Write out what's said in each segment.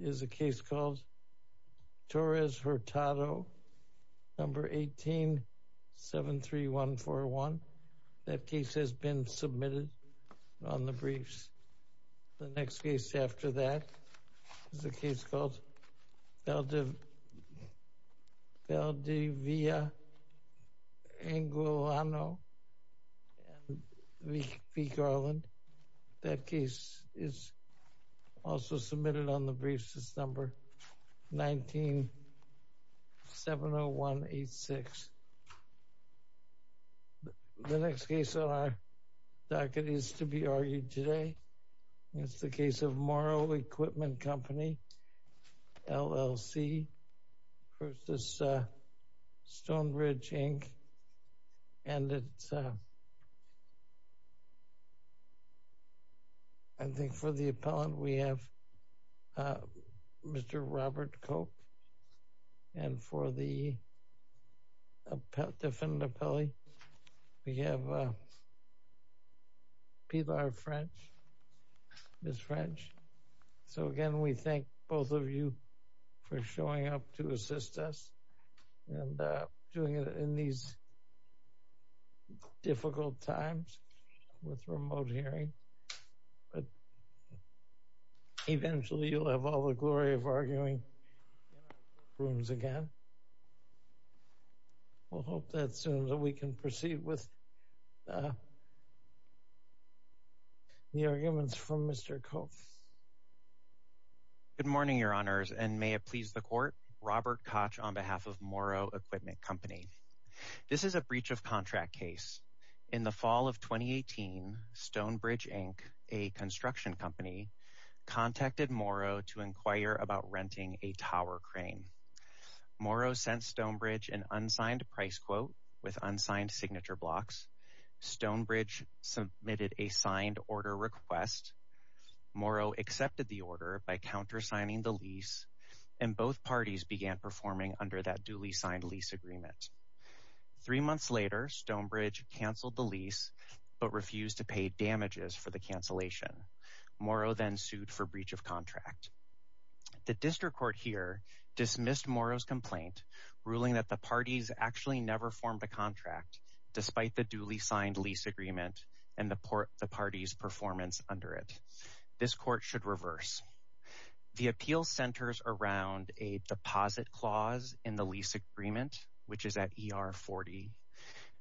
is a case called Torres Hurtado, No. 1873141. That case has been submitted on the briefs. The next case after that is a case called Valdivia Angolano v. Garland. That case is also submitted on the briefs. It's No. 1970186. The next case on our docket is to be argued today. It's the case of Morrow Equipment Company, LLC v. Stonebridge, Inc. And I think for the appellant, we have Mr. Robert Cope. And for the defendant appellee, we have Pilar French, Ms. French. So again, we thank both of you for showing up to assist us and doing it in these difficult times with remote hearing. But eventually, you'll have all the glory of arguing in our rooms again. We'll hope that soon that we can proceed with the arguments from Mr. Cope. Good morning, Your Honors, and may it please the Court. Robert Koch on behalf of Morrow Equipment Company. This is a breach of contract case. In the fall of 2018, Stonebridge, Inc., a construction company, contacted Morrow to inquire about renting a tower crane. Morrow sent Stonebridge an unsigned price quote with unsigned signature blocks. Stonebridge submitted a signed order request. Morrow accepted the order by countersigning the lease, and both parties began performing under that duly signed lease agreement. Three months later, Stonebridge canceled the lease but refused to pay damages for the cancellation. Morrow then sued for breach of contract. The district court here dismissed Morrow's complaint, ruling that the parties actually never formed a contract despite the duly signed lease agreement and the parties' performance under it. This court should reverse. The appeal centers around a deposit clause in the lease agreement, which is at ER 40.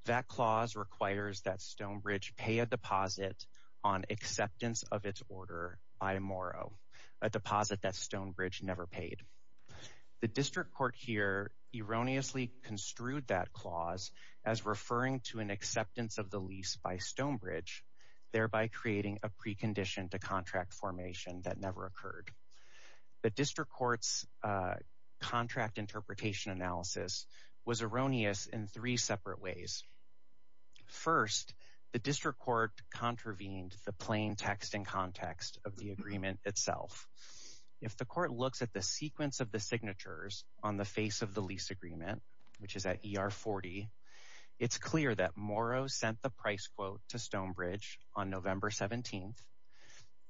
That clause requires that Stonebridge pay a deposit on acceptance of its order by Morrow, a deposit that Stonebridge never paid. The district court here erroneously construed that clause as referring to an acceptance of the lease by Stonebridge, thereby creating a precondition to contract formation that never occurred. The district court's contract interpretation analysis was erroneous in three separate ways. First, the district court contravened the plain text and context of the signatures on the face of the lease agreement, which is at ER 40. It's clear that Morrow sent the price quote to Stonebridge on November 17,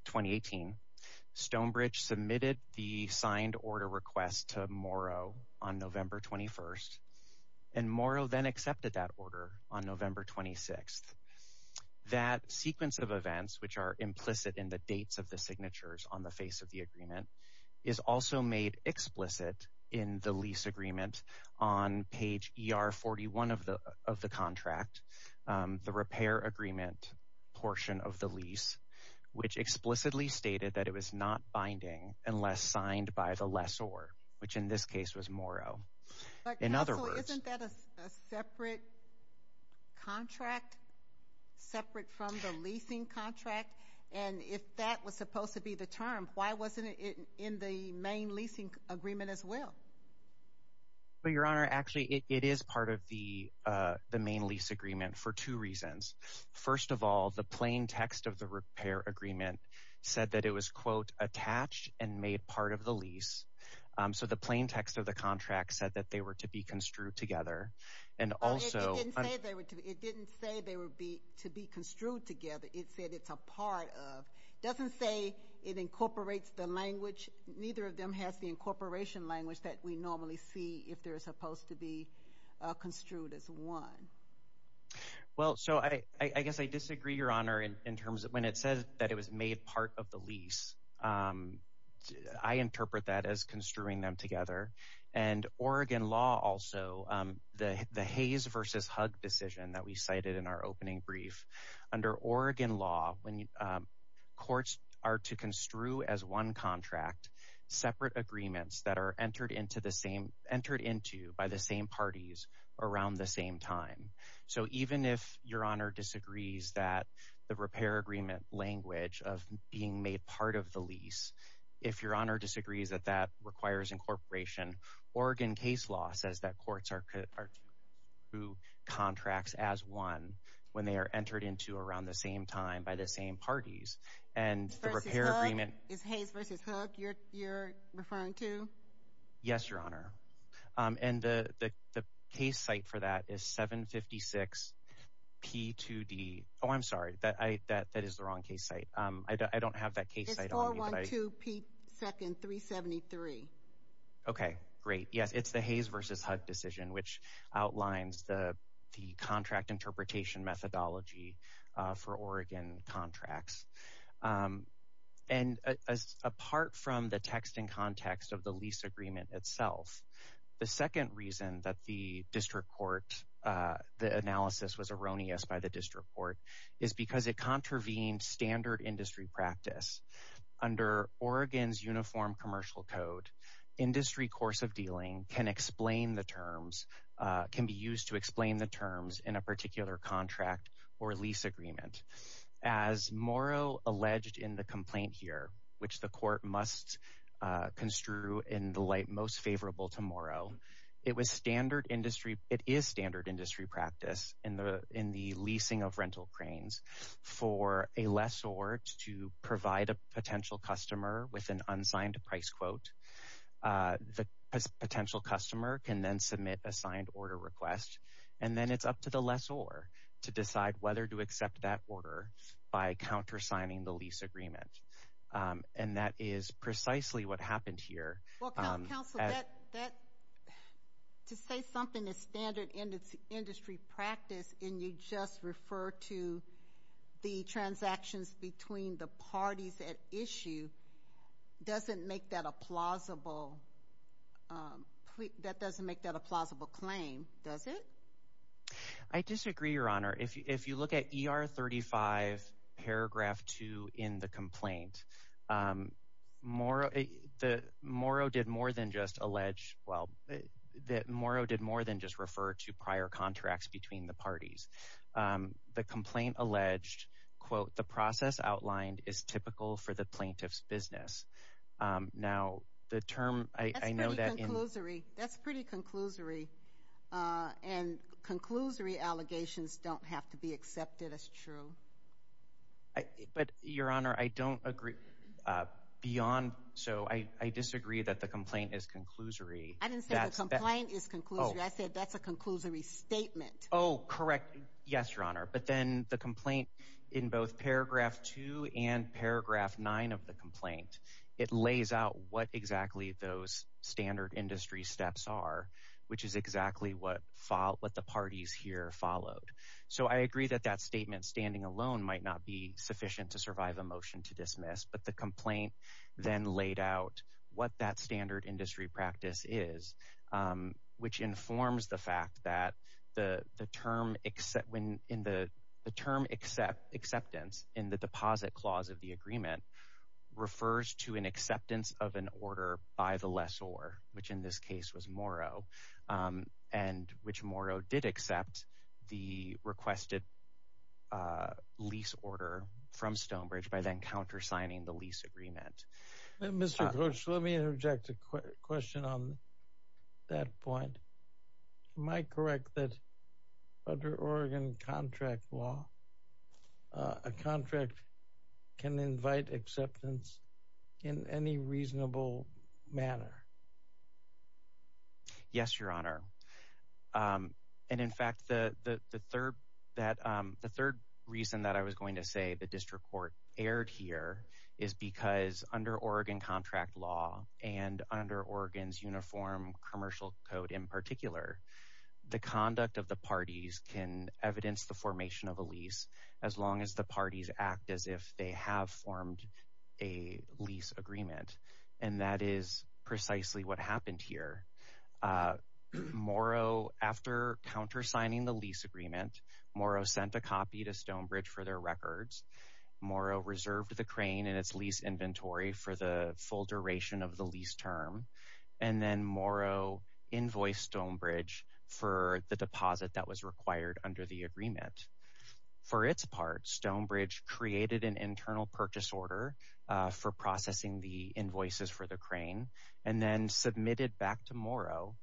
2018. Stonebridge submitted the signed order request to Morrow on November 21, and Morrow then accepted that order on November 26. That sequence of events, which are implicit in the dates of the signatures on the face of the explicit in the lease agreement on page ER 41 of the contract, the repair agreement portion of the lease, which explicitly stated that it was not binding unless signed by the lessor, which in this case was Morrow. In other words... Counsel, isn't that a separate contract, separate from the leasing contract? And if that was supposed to be the term, why wasn't it in the main leasing agreement as well? Well, Your Honor, actually it is part of the main lease agreement for two reasons. First of all, the plain text of the repair agreement said that it was quote attached and made part of the lease. So the plain text of the contract said that they were to be construed together. And also... It didn't say they were to be construed together. It said it's a part of. It doesn't say it incorporates the language. Neither of them has the incorporation language that we normally see if they're supposed to be construed as one. Well, so I guess I disagree, Your Honor, in terms of when it says that it was made part of the lease. I interpret that as construing them together. And Oregon law also, the Hayes versus Hugg decision that we cited in our opening brief, under Oregon law, when courts are to construe as one contract separate agreements that are entered into by the same parties around the same time. So even if Your Honor disagrees that the repair agreement language of being made part of the lease, if Your Honor disagrees that that requires incorporation, Oregon case law says that who contracts as one when they are entered into around the same time by the same parties. And the repair agreement... Is Hayes versus Hugg you're referring to? Yes, Your Honor. And the case site for that is 756P2D... Oh, I'm sorry. That is the wrong case site. I don't have that case site on me. It's 412P2N373. Okay, great. Yes, it's the Hayes versus Hugg decision, which outlines the contract interpretation methodology for Oregon contracts. And as apart from the text and context of the lease agreement itself, the second reason that the district court, the analysis was erroneous by the district court is because it contravenes standard industry practice. Under Oregon's uniform commercial code, industry course of dealing can explain the terms... Can be used to explain the terms in a particular contract or lease agreement. As Morrow alleged in the complaint here, which the court must construe in the light most favorable to Morrow, it was standard industry... It is standard industry practice in the leasing of rental cranes for a lessor to provide a potential customer with an unsigned price quote. The potential customer can then submit a signed order request, and then it's up to the lessor to decide whether to accept that order by countersigning the lease agreement. And that is precisely what happened here. Well, counsel, to say something is standard industry practice and you just refer to the transactions between the parties at issue doesn't make that a plausible that doesn't make that a plausible claim, does it? I disagree, your honor. If you look at ER 35 paragraph 2 in the complaint, Morrow did more than just allege... Well, that Morrow did more than just refer to prior contracts between the parties. The complaint alleged, quote, the process outlined is typical for the plaintiff's business. Now, the term... That's pretty conclusory. And conclusory allegations don't have to be accepted as true. But, your honor, I don't agree beyond... So I disagree that the complaint is conclusory. I didn't say the complaint is conclusory. I said that's a conclusory statement. Oh, correct. Yes, your honor. But then the complaint in both paragraph 2 and paragraph 9 of the complaint, it lays out what exactly those standard industry steps are, which is exactly what the parties here followed. So I agree that that statement standing alone might not be sufficient to survive a motion to dismiss, but the complaint then laid out what that standard industry practice is, which informs the fact that the term acceptance in the deposit clause of the agreement refers to an acceptance of an order by the lessor, which in this case was Morrow, and which Morrow did accept the requested lease order from Stonebridge by then countersigning the lease agreement. Mr. Koch, let me interject a question on that point. Am I correct that under Oregon contract law, a contract can invite acceptance in any reasonable manner? Yes, your honor. And in fact, the third reason that I was going to say the district court erred here is because under Oregon contract law and under Oregon's uniform commercial code in particular, the conduct of the parties can evidence the formation of a lease as long as the parties act as if they have formed a lease agreement. And that is precisely what happened here. Morrow, after countersigning the lease agreement, Morrow sent a copy to Stonebridge for their reserve to the crane and its lease inventory for the full duration of the lease term. And then Morrow invoiced Stonebridge for the deposit that was required under the agreement. For its part, Stonebridge created an internal purchase order for processing the invoices for the crane, and then submitted back to Morrow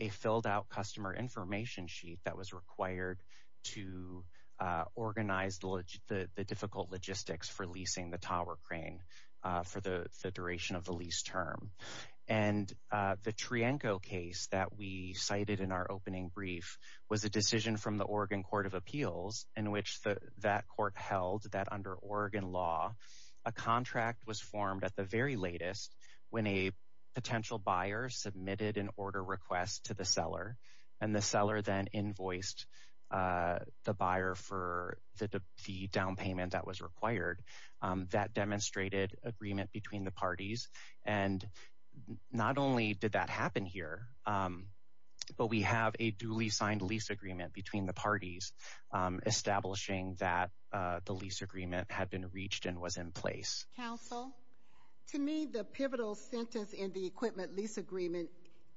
a filled out customer information sheet that was required to organize the difficult logistics for leasing the tower crane for the duration of the lease term. And the Trienko case that we cited in our opening brief was a decision from the Oregon Court of Appeals in which that court held that under Oregon law, a contract was formed at the very latest when a potential buyer submitted an order request to the seller. And the seller then invoiced the buyer for the down payment that was required. That demonstrated agreement between the parties. And not only did that happen here, but we have a duly signed lease agreement between the parties establishing that the lease agreement had been reached and was in place. Counsel, to me the pivotal sentence in the equipment lease agreement,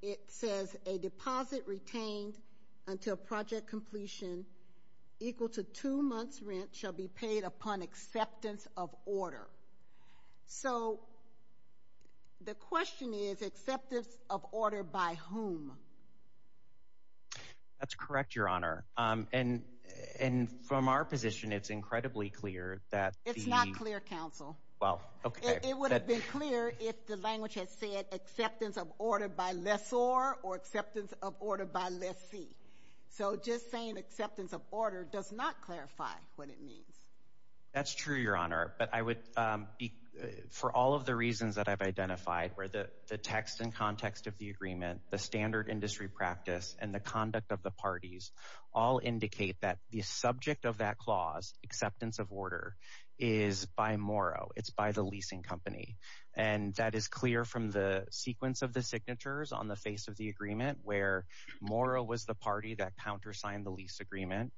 it says a deposit retained until project completion equal to two months rent shall be paid upon acceptance of order. So the question is acceptance of order by whom? That's correct, Your Honor. And from our position, it's incredibly clear that... It's not clear, Counsel. Well, okay. It would have been clear if the language had said acceptance of order by lessor or acceptance of order by lessee. So just saying acceptance of order does not clarify what it means. That's true, Your Honor. But I would... For all of the reasons that I've identified where the text and context of the agreement, the standard industry practice, and the conduct of the parties all indicate that the subject of that clause, acceptance of order, is by Moro. It's by the agreement where Moro was the party that countersigned the lease agreement.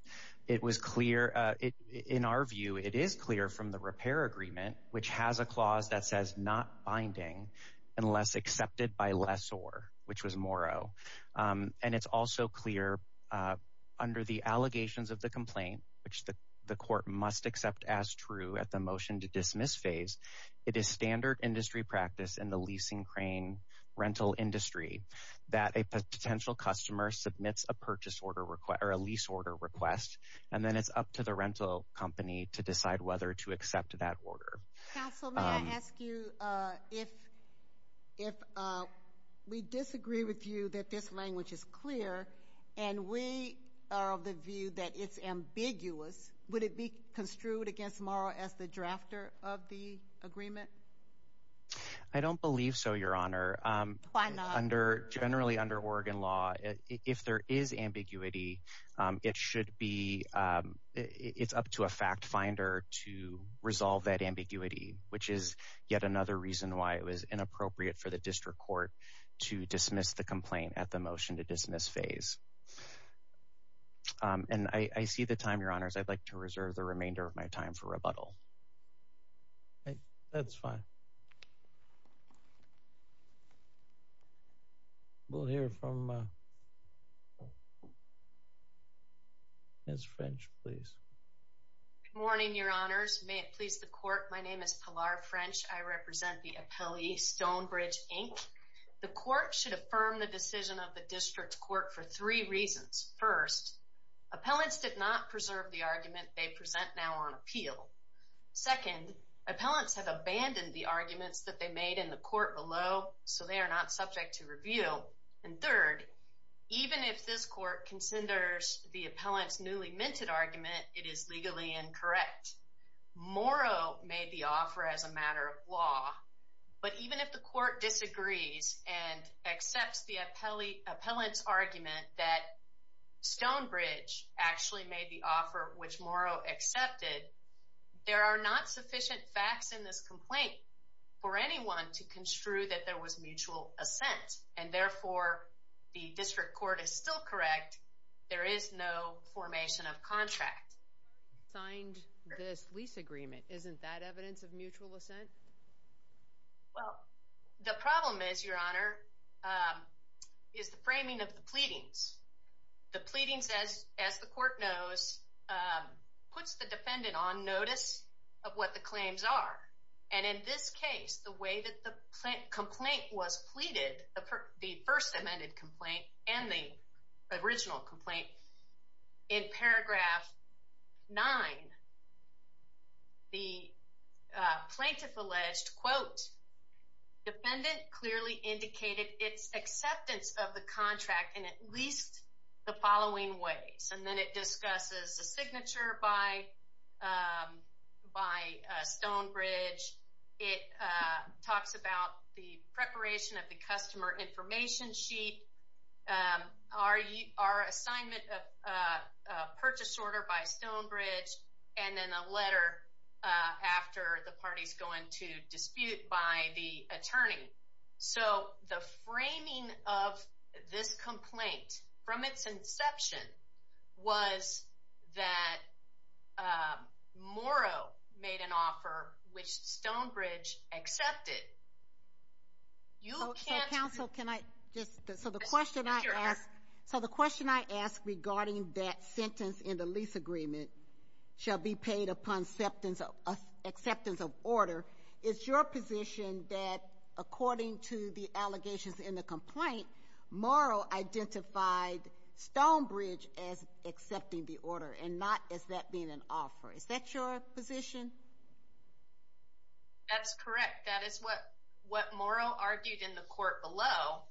In our view, it is clear from the repair agreement, which has a clause that says not binding unless accepted by lessor, which was Moro. And it's also clear under the allegations of the complaint, which the court must accept as true at the motion to dismiss phase, it is standard industry practice in the leasing rental industry that a potential customer submits a purchase order request or a lease order request, and then it's up to the rental company to decide whether to accept that order. Counsel, may I ask you if we disagree with you that this language is clear, and we are of the view that it's ambiguous, would it be construed against Moro as the drafter of the agreement? I don't believe so, Your Honor. Generally, under Oregon law, if there is ambiguity, it should be, it's up to a fact finder to resolve that ambiguity, which is yet another reason why it was inappropriate for the district court to dismiss the complaint at the motion to dismiss phase. And I see the time, Your Honors, I'd like to reserve the remainder of my time for rebuttal. Okay, that's fine. We'll hear from Ms. French, please. Good morning, Your Honors. May it please the court, my name is Pilar French. I represent the appellee Stonebridge, Inc. The court should affirm the decision of the district court for three reasons. First, appellants did not preserve the argument they present now on appeal. Second, appellants have abandoned the arguments that they made in the court below, so they are not subject to review. And third, even if this court considers the appellant's newly minted argument, it is legally incorrect. Moro made the offer as a matter of law, but even if the Stonebridge actually made the offer, which Moro accepted, there are not sufficient facts in this complaint for anyone to construe that there was mutual assent. And therefore, the district court is still correct, there is no formation of contract. He signed this lease agreement, isn't that evidence of mutual assent? Well, the problem is, Your Honor, is the framing of the pleadings. The pleadings, as the court knows, puts the defendant on notice of what the claims are. And in this case, the way that the complaint was pleaded, the first amended complaint and the original complaint, in paragraph 9, the plaintiff alleged, quote, defendant clearly indicated its acceptance of the contract in at least the following ways. And then it discusses the signature by Stonebridge, it talks about the preparation of the customer information sheet, our assignment of purchase order by Stonebridge, and then a letter after the party's going to dispute by the attorney. So the framing of this complaint, from its inception, was that Moro made an offer which Stonebridge accepted. You can't... So counsel, can I just... So the question I ask regarding that sentence in the plea paid upon acceptance of order, it's your position that according to the allegations in the complaint, Moro identified Stonebridge as accepting the order and not as that being an offer. Is that your position? That's correct. That is what Moro argued in the court below.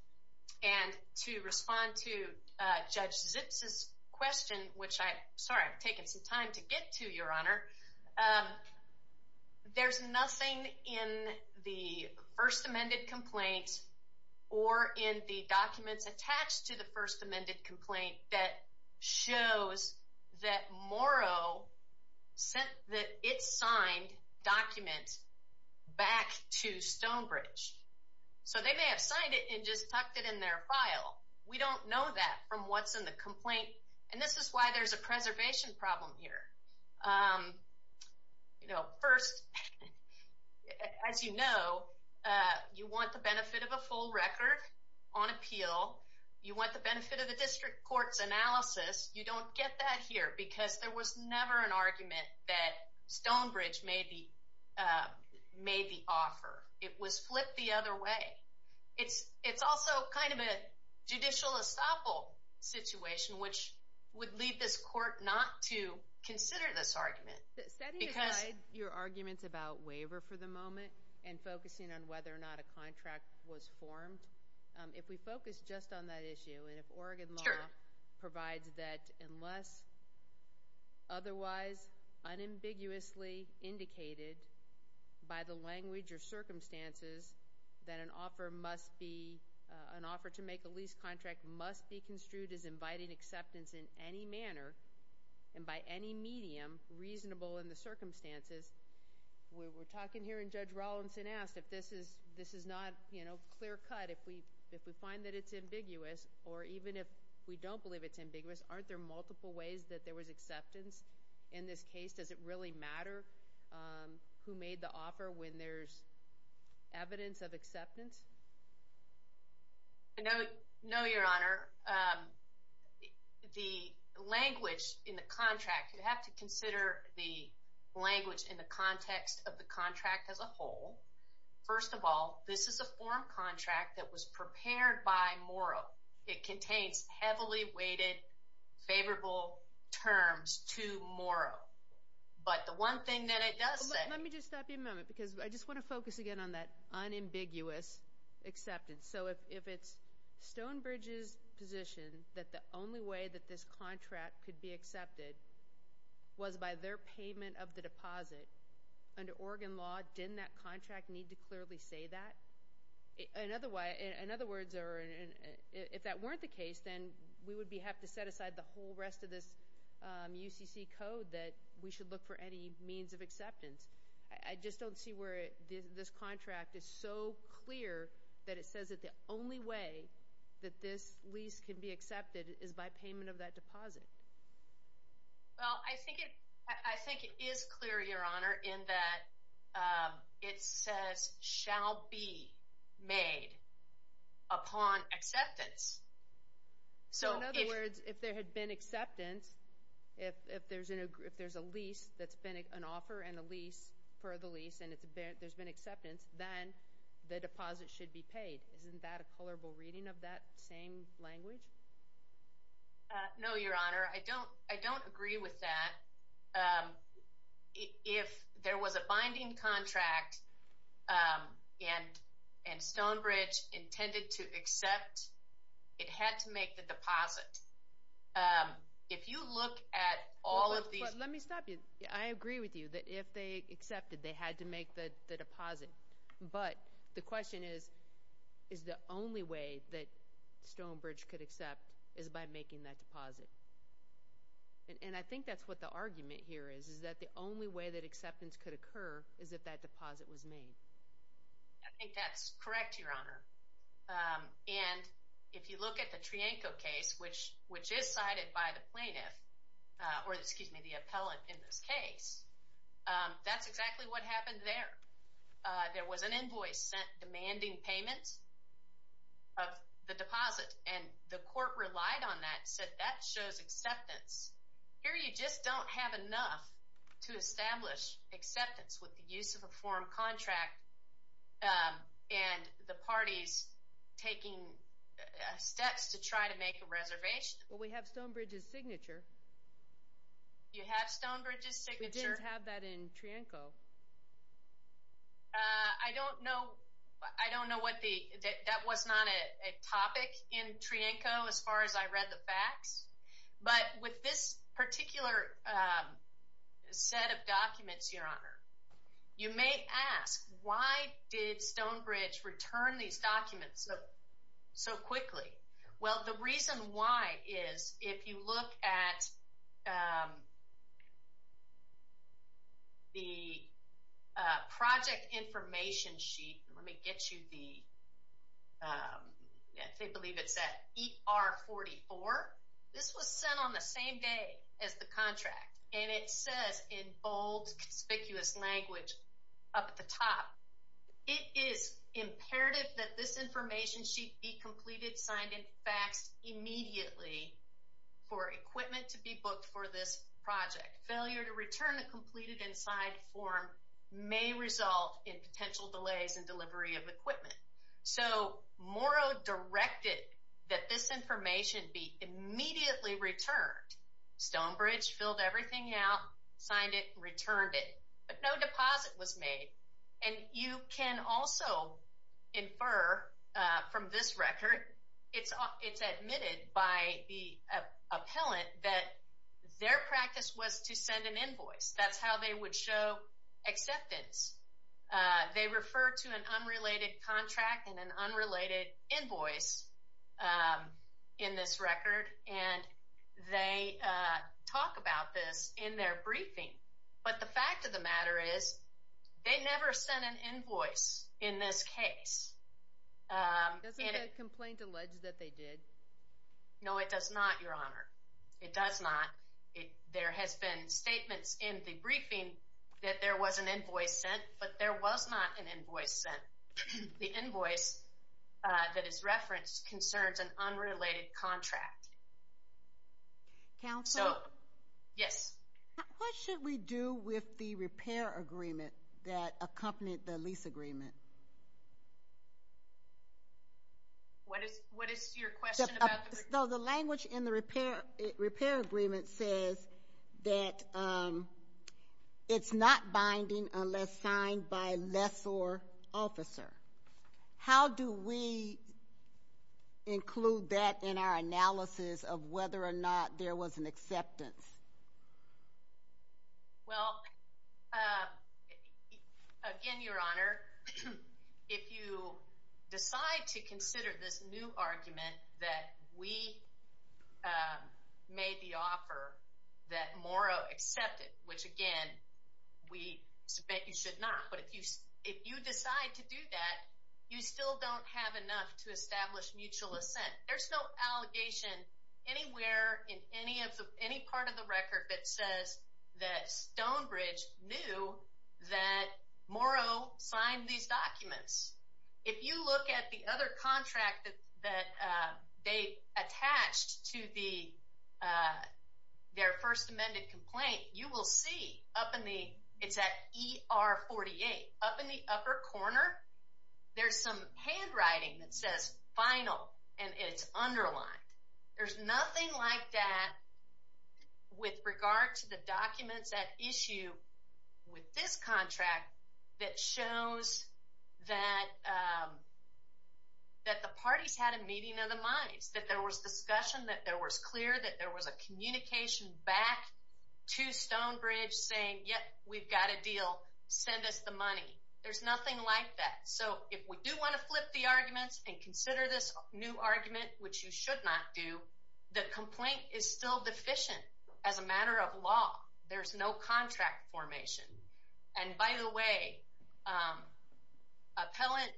And to respond to Judge Zips' question, which I'm sorry, I've taken some time to get to, Your Honor. There's nothing in the first amended complaint or in the documents attached to the first amended complaint that shows that Moro said that it signed document back to Stonebridge. So they may have signed it and just tucked it in their file. We don't know that from what's in the complaint. And this is why there's a preservation problem here. You know, first, as you know, you want the benefit of a full record on appeal. You want the benefit of the district court's analysis. You don't get that here because there was never an argument that Stonebridge made the offer. It was flipped the other way. It's also kind of a judicial estoppel situation, which would lead this court not to consider this argument. Because your arguments about waiver for the moment and focusing on whether or not a contract was formed, if we focus just on that issue and if Oregon law provides that unless otherwise unambiguously indicated by the language or circumstances that an offer must be, an offer to make a lease contract must be construed as inviting acceptance in any manner and by any medium reasonable in the circumstances, we're talking here, and Judge Rollinson asked, if this is not, you know, clear-cut, if we find that it's ambiguous or even if we don't believe it's ambiguous, aren't there multiple ways that there was acceptance in this case? Does it really matter who made the offer when there's evidence of acceptance? No, no, Your Honor. The language in the contract, you have to consider the language in the context of the contract as a whole. First of all, this is a form contract that was prepared by Morrow. It contains heavily weighted favorable terms to Morrow. But the one thing that it does say... Let me just stop you a moment because I just want to focus again on that unambiguous acceptance. So if it's Stonebridge's position that the only way that this contract could be accepted was by their payment of the deposit, under Oregon law, didn't that contract need to clearly say that? In other words, or if that weren't the case, then we would have to set aside the whole rest of this UCC code that we should look for any means of acceptance. I just don't see where this contract is so clear that it says that the only way that this lease can be accepted is by made upon acceptance. So in other words, if there had been acceptance, if there's a lease that's been an offer and a lease for the lease and there's been acceptance, then the deposit should be paid. Isn't that a colorable reading of that same language? No, Your Honor. I don't agree with that. If there was a binding contract and Stonebridge intended to accept, it had to make the deposit. If you look at all of these... Let me stop you. I agree with you that if they accepted, they had to make the deposit. But the question is, is the only way that Stonebridge could accept is by making that deposit? And I think that's what the argument here is, is that the only way that acceptance could occur is if that deposit was made. I think that's correct, Your Honor. And if you look at the Trianco case, which is cited by the plaintiff, or excuse me, the appellant in this case, that's exactly what happened there. There was an invoice sent demanding payments of the deposit and the court relied on that, said that shows acceptance. Here you just don't have enough to establish acceptance with the use of a form contract and the parties taking steps to try to make a reservation. Well, we have Stonebridge's signature. You have Stonebridge's signature? We didn't have that in Trianco. I don't know. I don't know what the... That was not a topic in Trianco as far as I read the facts. But with this particular set of documents, Your Honor, you may ask why did Stonebridge return these documents so quickly? Well, the reason why is if you look at the project information sheet, let me get you the... I believe it's at ER44. This was sent on the same day as the contract. And it says in bold, conspicuous language up at the top, it is imperative that this information sheet be completed, signed, and faxed immediately for equipment to be booked for this project. Failure to return the completed and signed form may result in potential delays in delivery of equipment. So Morrow directed that this information be immediately returned. Stonebridge filled everything out, signed it, returned it, but no deposit was made. And you can also infer from this record, it's admitted by the appellant that their practice was to send an invoice. That's how they would show acceptance. They refer to an unrelated contract and an unrelated invoice in this record. And they talk about this in their briefing. But the fact of the matter is they never sent an invoice in this case. Doesn't the complaint allege that they did? No, it does not, Your Honor. It does not. But there was not an invoice sent. The invoice that is referenced concerns an unrelated contract. Counsel? Yes. What should we do with the repair agreement that accompanied the lease agreement? What is your question about the repair agreement? The language in the repair agreement says that it's not binding unless signed by a lessor officer. How do we include that in our analysis of whether or not there was an acceptance? Well, again, Your Honor, if you decide to consider this new argument that we made the offer that Morrow accepted, which again, we bet you should not. But if you decide to do that, you still don't have enough to establish mutual assent. There's no allegation anywhere in any part of the record that says that Stonebridge knew that Morrow signed these documents. If you look at the other contract that they attached to their first amended complaint, you will see it's at ER 48. Up in the upper corner, there's some handwriting that says final and it's underlined. There's nothing like that with regard to the documents at issue with this contract that shows that the parties had a meeting of the minds, that there was discussion, that there was clear, that there was a communication back to Stonebridge saying, yep, we've got a deal. Send us the money. There's nothing like that. So if we do want to flip the arguments and consider this new argument, which you should not do, the complaint is still deficient as a matter of law. There's no contract formation. And by the way, appellant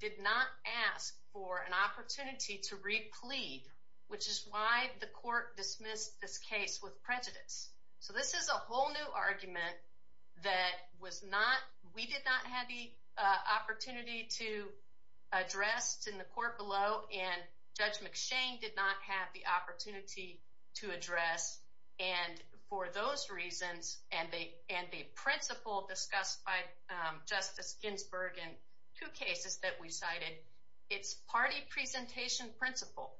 did not ask for an opportunity to re-plead, which is why the court dismissed this case with prejudice. So this is a whole new argument that was not, we did not have the opportunity to address in the court below and Judge McShane did not have the opportunity to address. And for those reasons, and the principle discussed by Justice Ginsburg in two cases that we cited, it's party presentation principle.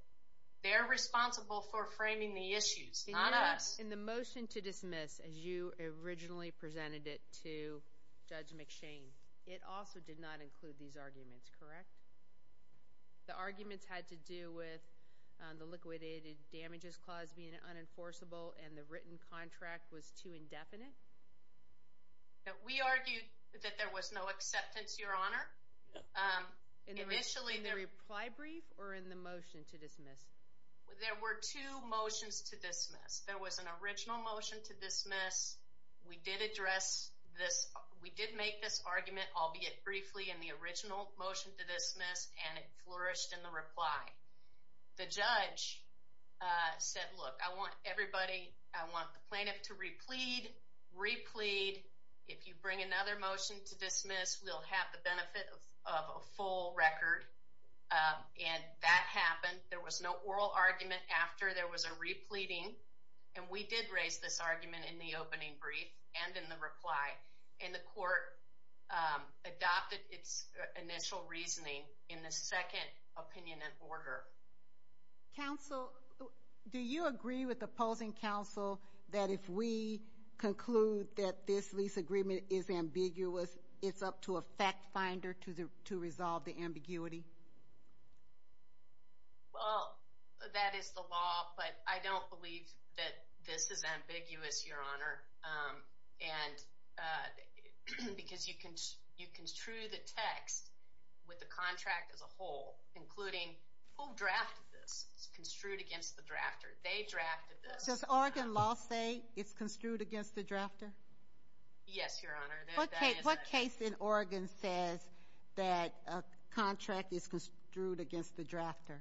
They're responsible for framing the issues, not us. In the motion to dismiss, as you originally presented it to Judge McShane, it also did not include these arguments, correct? The arguments had to do with the liquidated damages clause being unenforceable and the written contract was too indefinite? We argued that there was no acceptance, Your Honor. Initially, in the reply brief or in the motion to dismiss? There were two motions to dismiss. There was an original motion to dismiss. We did address this. We did make this argument, albeit briefly, in the original motion to dismiss and it flourished in the reply. The judge said, look, I want everybody, I want the plaintiff to re-plead, re-plead. If you bring another motion to dismiss, we'll have the benefit of a full record. And that happened. There was no oral argument after there was a re-pleading. And we did raise this argument in the opening brief and in the reply. And the second opinion in order. Counsel, do you agree with opposing counsel that if we conclude that this lease agreement is ambiguous, it's up to a fact finder to resolve the ambiguity? Well, that is the law, but I don't believe that this is ambiguous, Your Honor. And because you construe the text with the contract as a whole, including who drafted this. It's construed against the drafter. They drafted this. Does Oregon law say it's construed against the drafter? Yes, Your Honor. What case in Oregon says that a contract is construed against the drafter?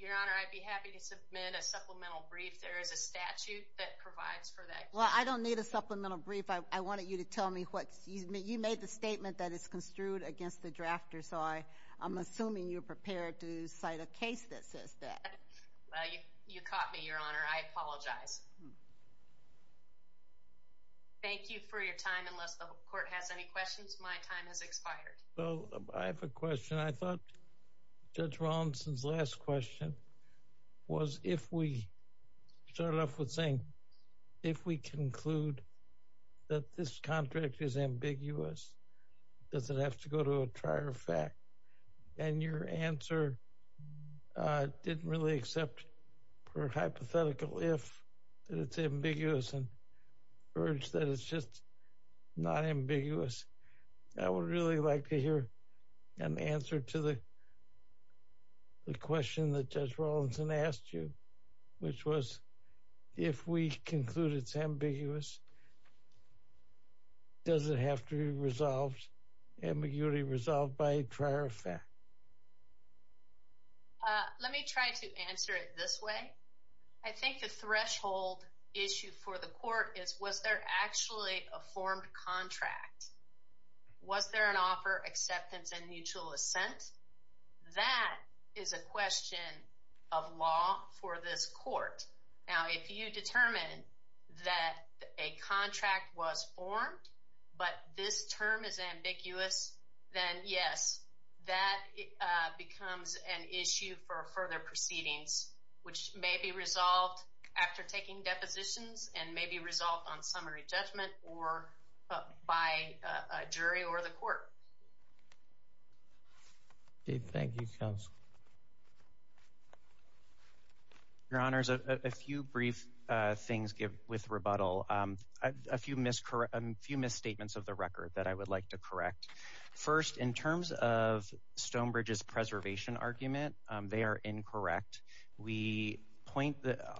Your Honor, I'd be happy to submit a supplemental brief. There is a statute that provides for that. I don't need a supplemental brief. I wanted you to tell me. You made the statement that it's construed against the drafter, so I'm assuming you're prepared to cite a case that says that. Well, you caught me, Your Honor. I apologize. Thank you for your time. Unless the court has any questions, my time has expired. Well, I have a question. I thought Judge Robinson's last question was if we, you started off with saying, if we conclude that this contract is ambiguous, does it have to go to a trier fact? And your answer didn't really accept her hypothetical if that it's ambiguous and urge that it's just not ambiguous. I would really like to hear an answer to the question that Judge Robinson asked you, which was, if we conclude it's ambiguous, does it have to be resolved, ambiguity resolved by a trier fact? Let me try to answer it this way. I think the threshold issue for the court is was there actually a formed contract? Was there an offer, acceptance, and mutual assent? That is a question of law for this court. Now, if you determine that a contract was formed, but this term is ambiguous, then yes, that becomes an issue for further proceedings, which may be resolved after taking depositions and may be resolved on summary judgment or by a jury or the court. Dave, thank you. Your Honors, a few brief things with rebuttal. A few misstatements of the record that I would like to correct. First, in terms of Stonebridge's preservation argument, they are incorrect. We point,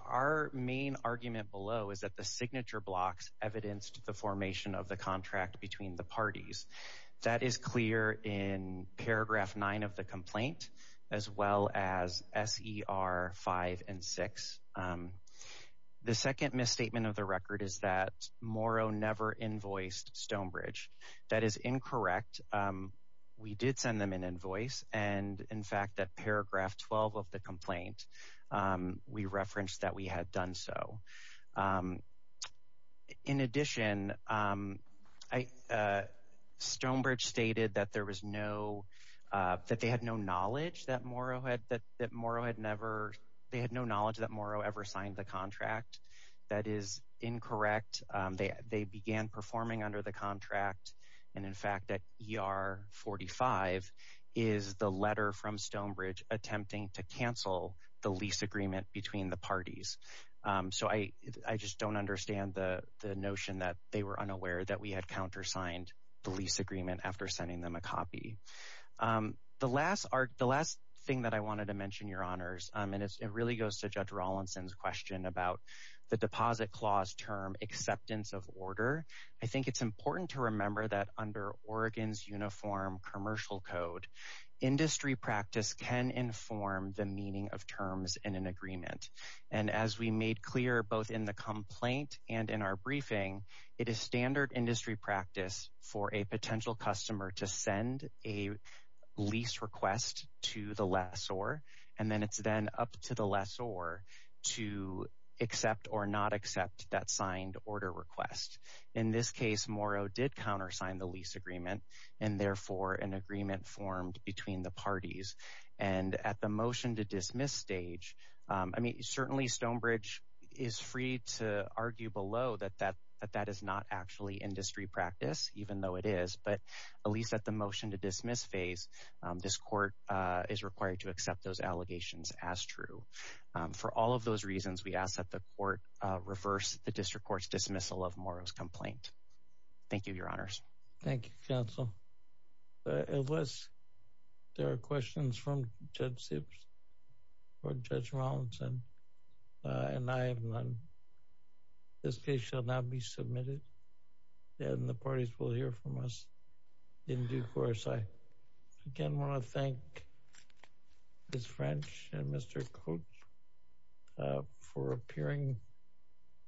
our main argument below is that the signature blocks evidenced the formation of the contract between the parties. That is clear in paragraph nine of the complaint, as well as SER five and six. The second misstatement of the record is that Morrow never invoiced Stonebridge. That is incorrect. We did send them an invoice, and in fact, that paragraph 12 of the complaint, we referenced that we had done so. In addition, Stonebridge stated that there was no, that they had no knowledge that Morrow had, that Morrow had never, they had no knowledge that under the contract, and in fact, that ER 45 is the letter from Stonebridge attempting to cancel the lease agreement between the parties. So, I just don't understand the notion that they were unaware that we had countersigned the lease agreement after sending them a copy. The last thing that I wanted to mention, Your Honors, and it really goes to Judge it's important to remember that under Oregon's Uniform Commercial Code, industry practice can inform the meaning of terms in an agreement. And as we made clear, both in the complaint and in our briefing, it is standard industry practice for a potential customer to send a lease request to the lessor, and then it's then up to the lessor to accept or not accept that signed order request. In this case, Morrow did countersign the lease agreement, and therefore, an agreement formed between the parties. And at the motion to dismiss stage, I mean, certainly Stonebridge is free to argue below that that is not actually industry practice, even though it is, but at least at the motion to dismiss phase, this court is required to reverse the district court's dismissal of Morrow's complaint. Thank you, Your Honors. Thank you, counsel. Unless there are questions from Judge Sips or Judge Rollinson, and I have none, this case shall not be submitted, and the parties will hear from us in due course. I again want to thank Ms. French and Mr. Koch for appearing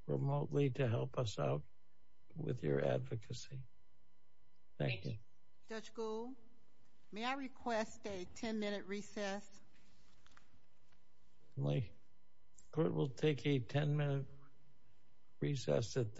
remotely to help us out with your advocacy. Thank you. Judge Gould, may I request a 10-minute recess? My court will take a 10-minute recess at this point.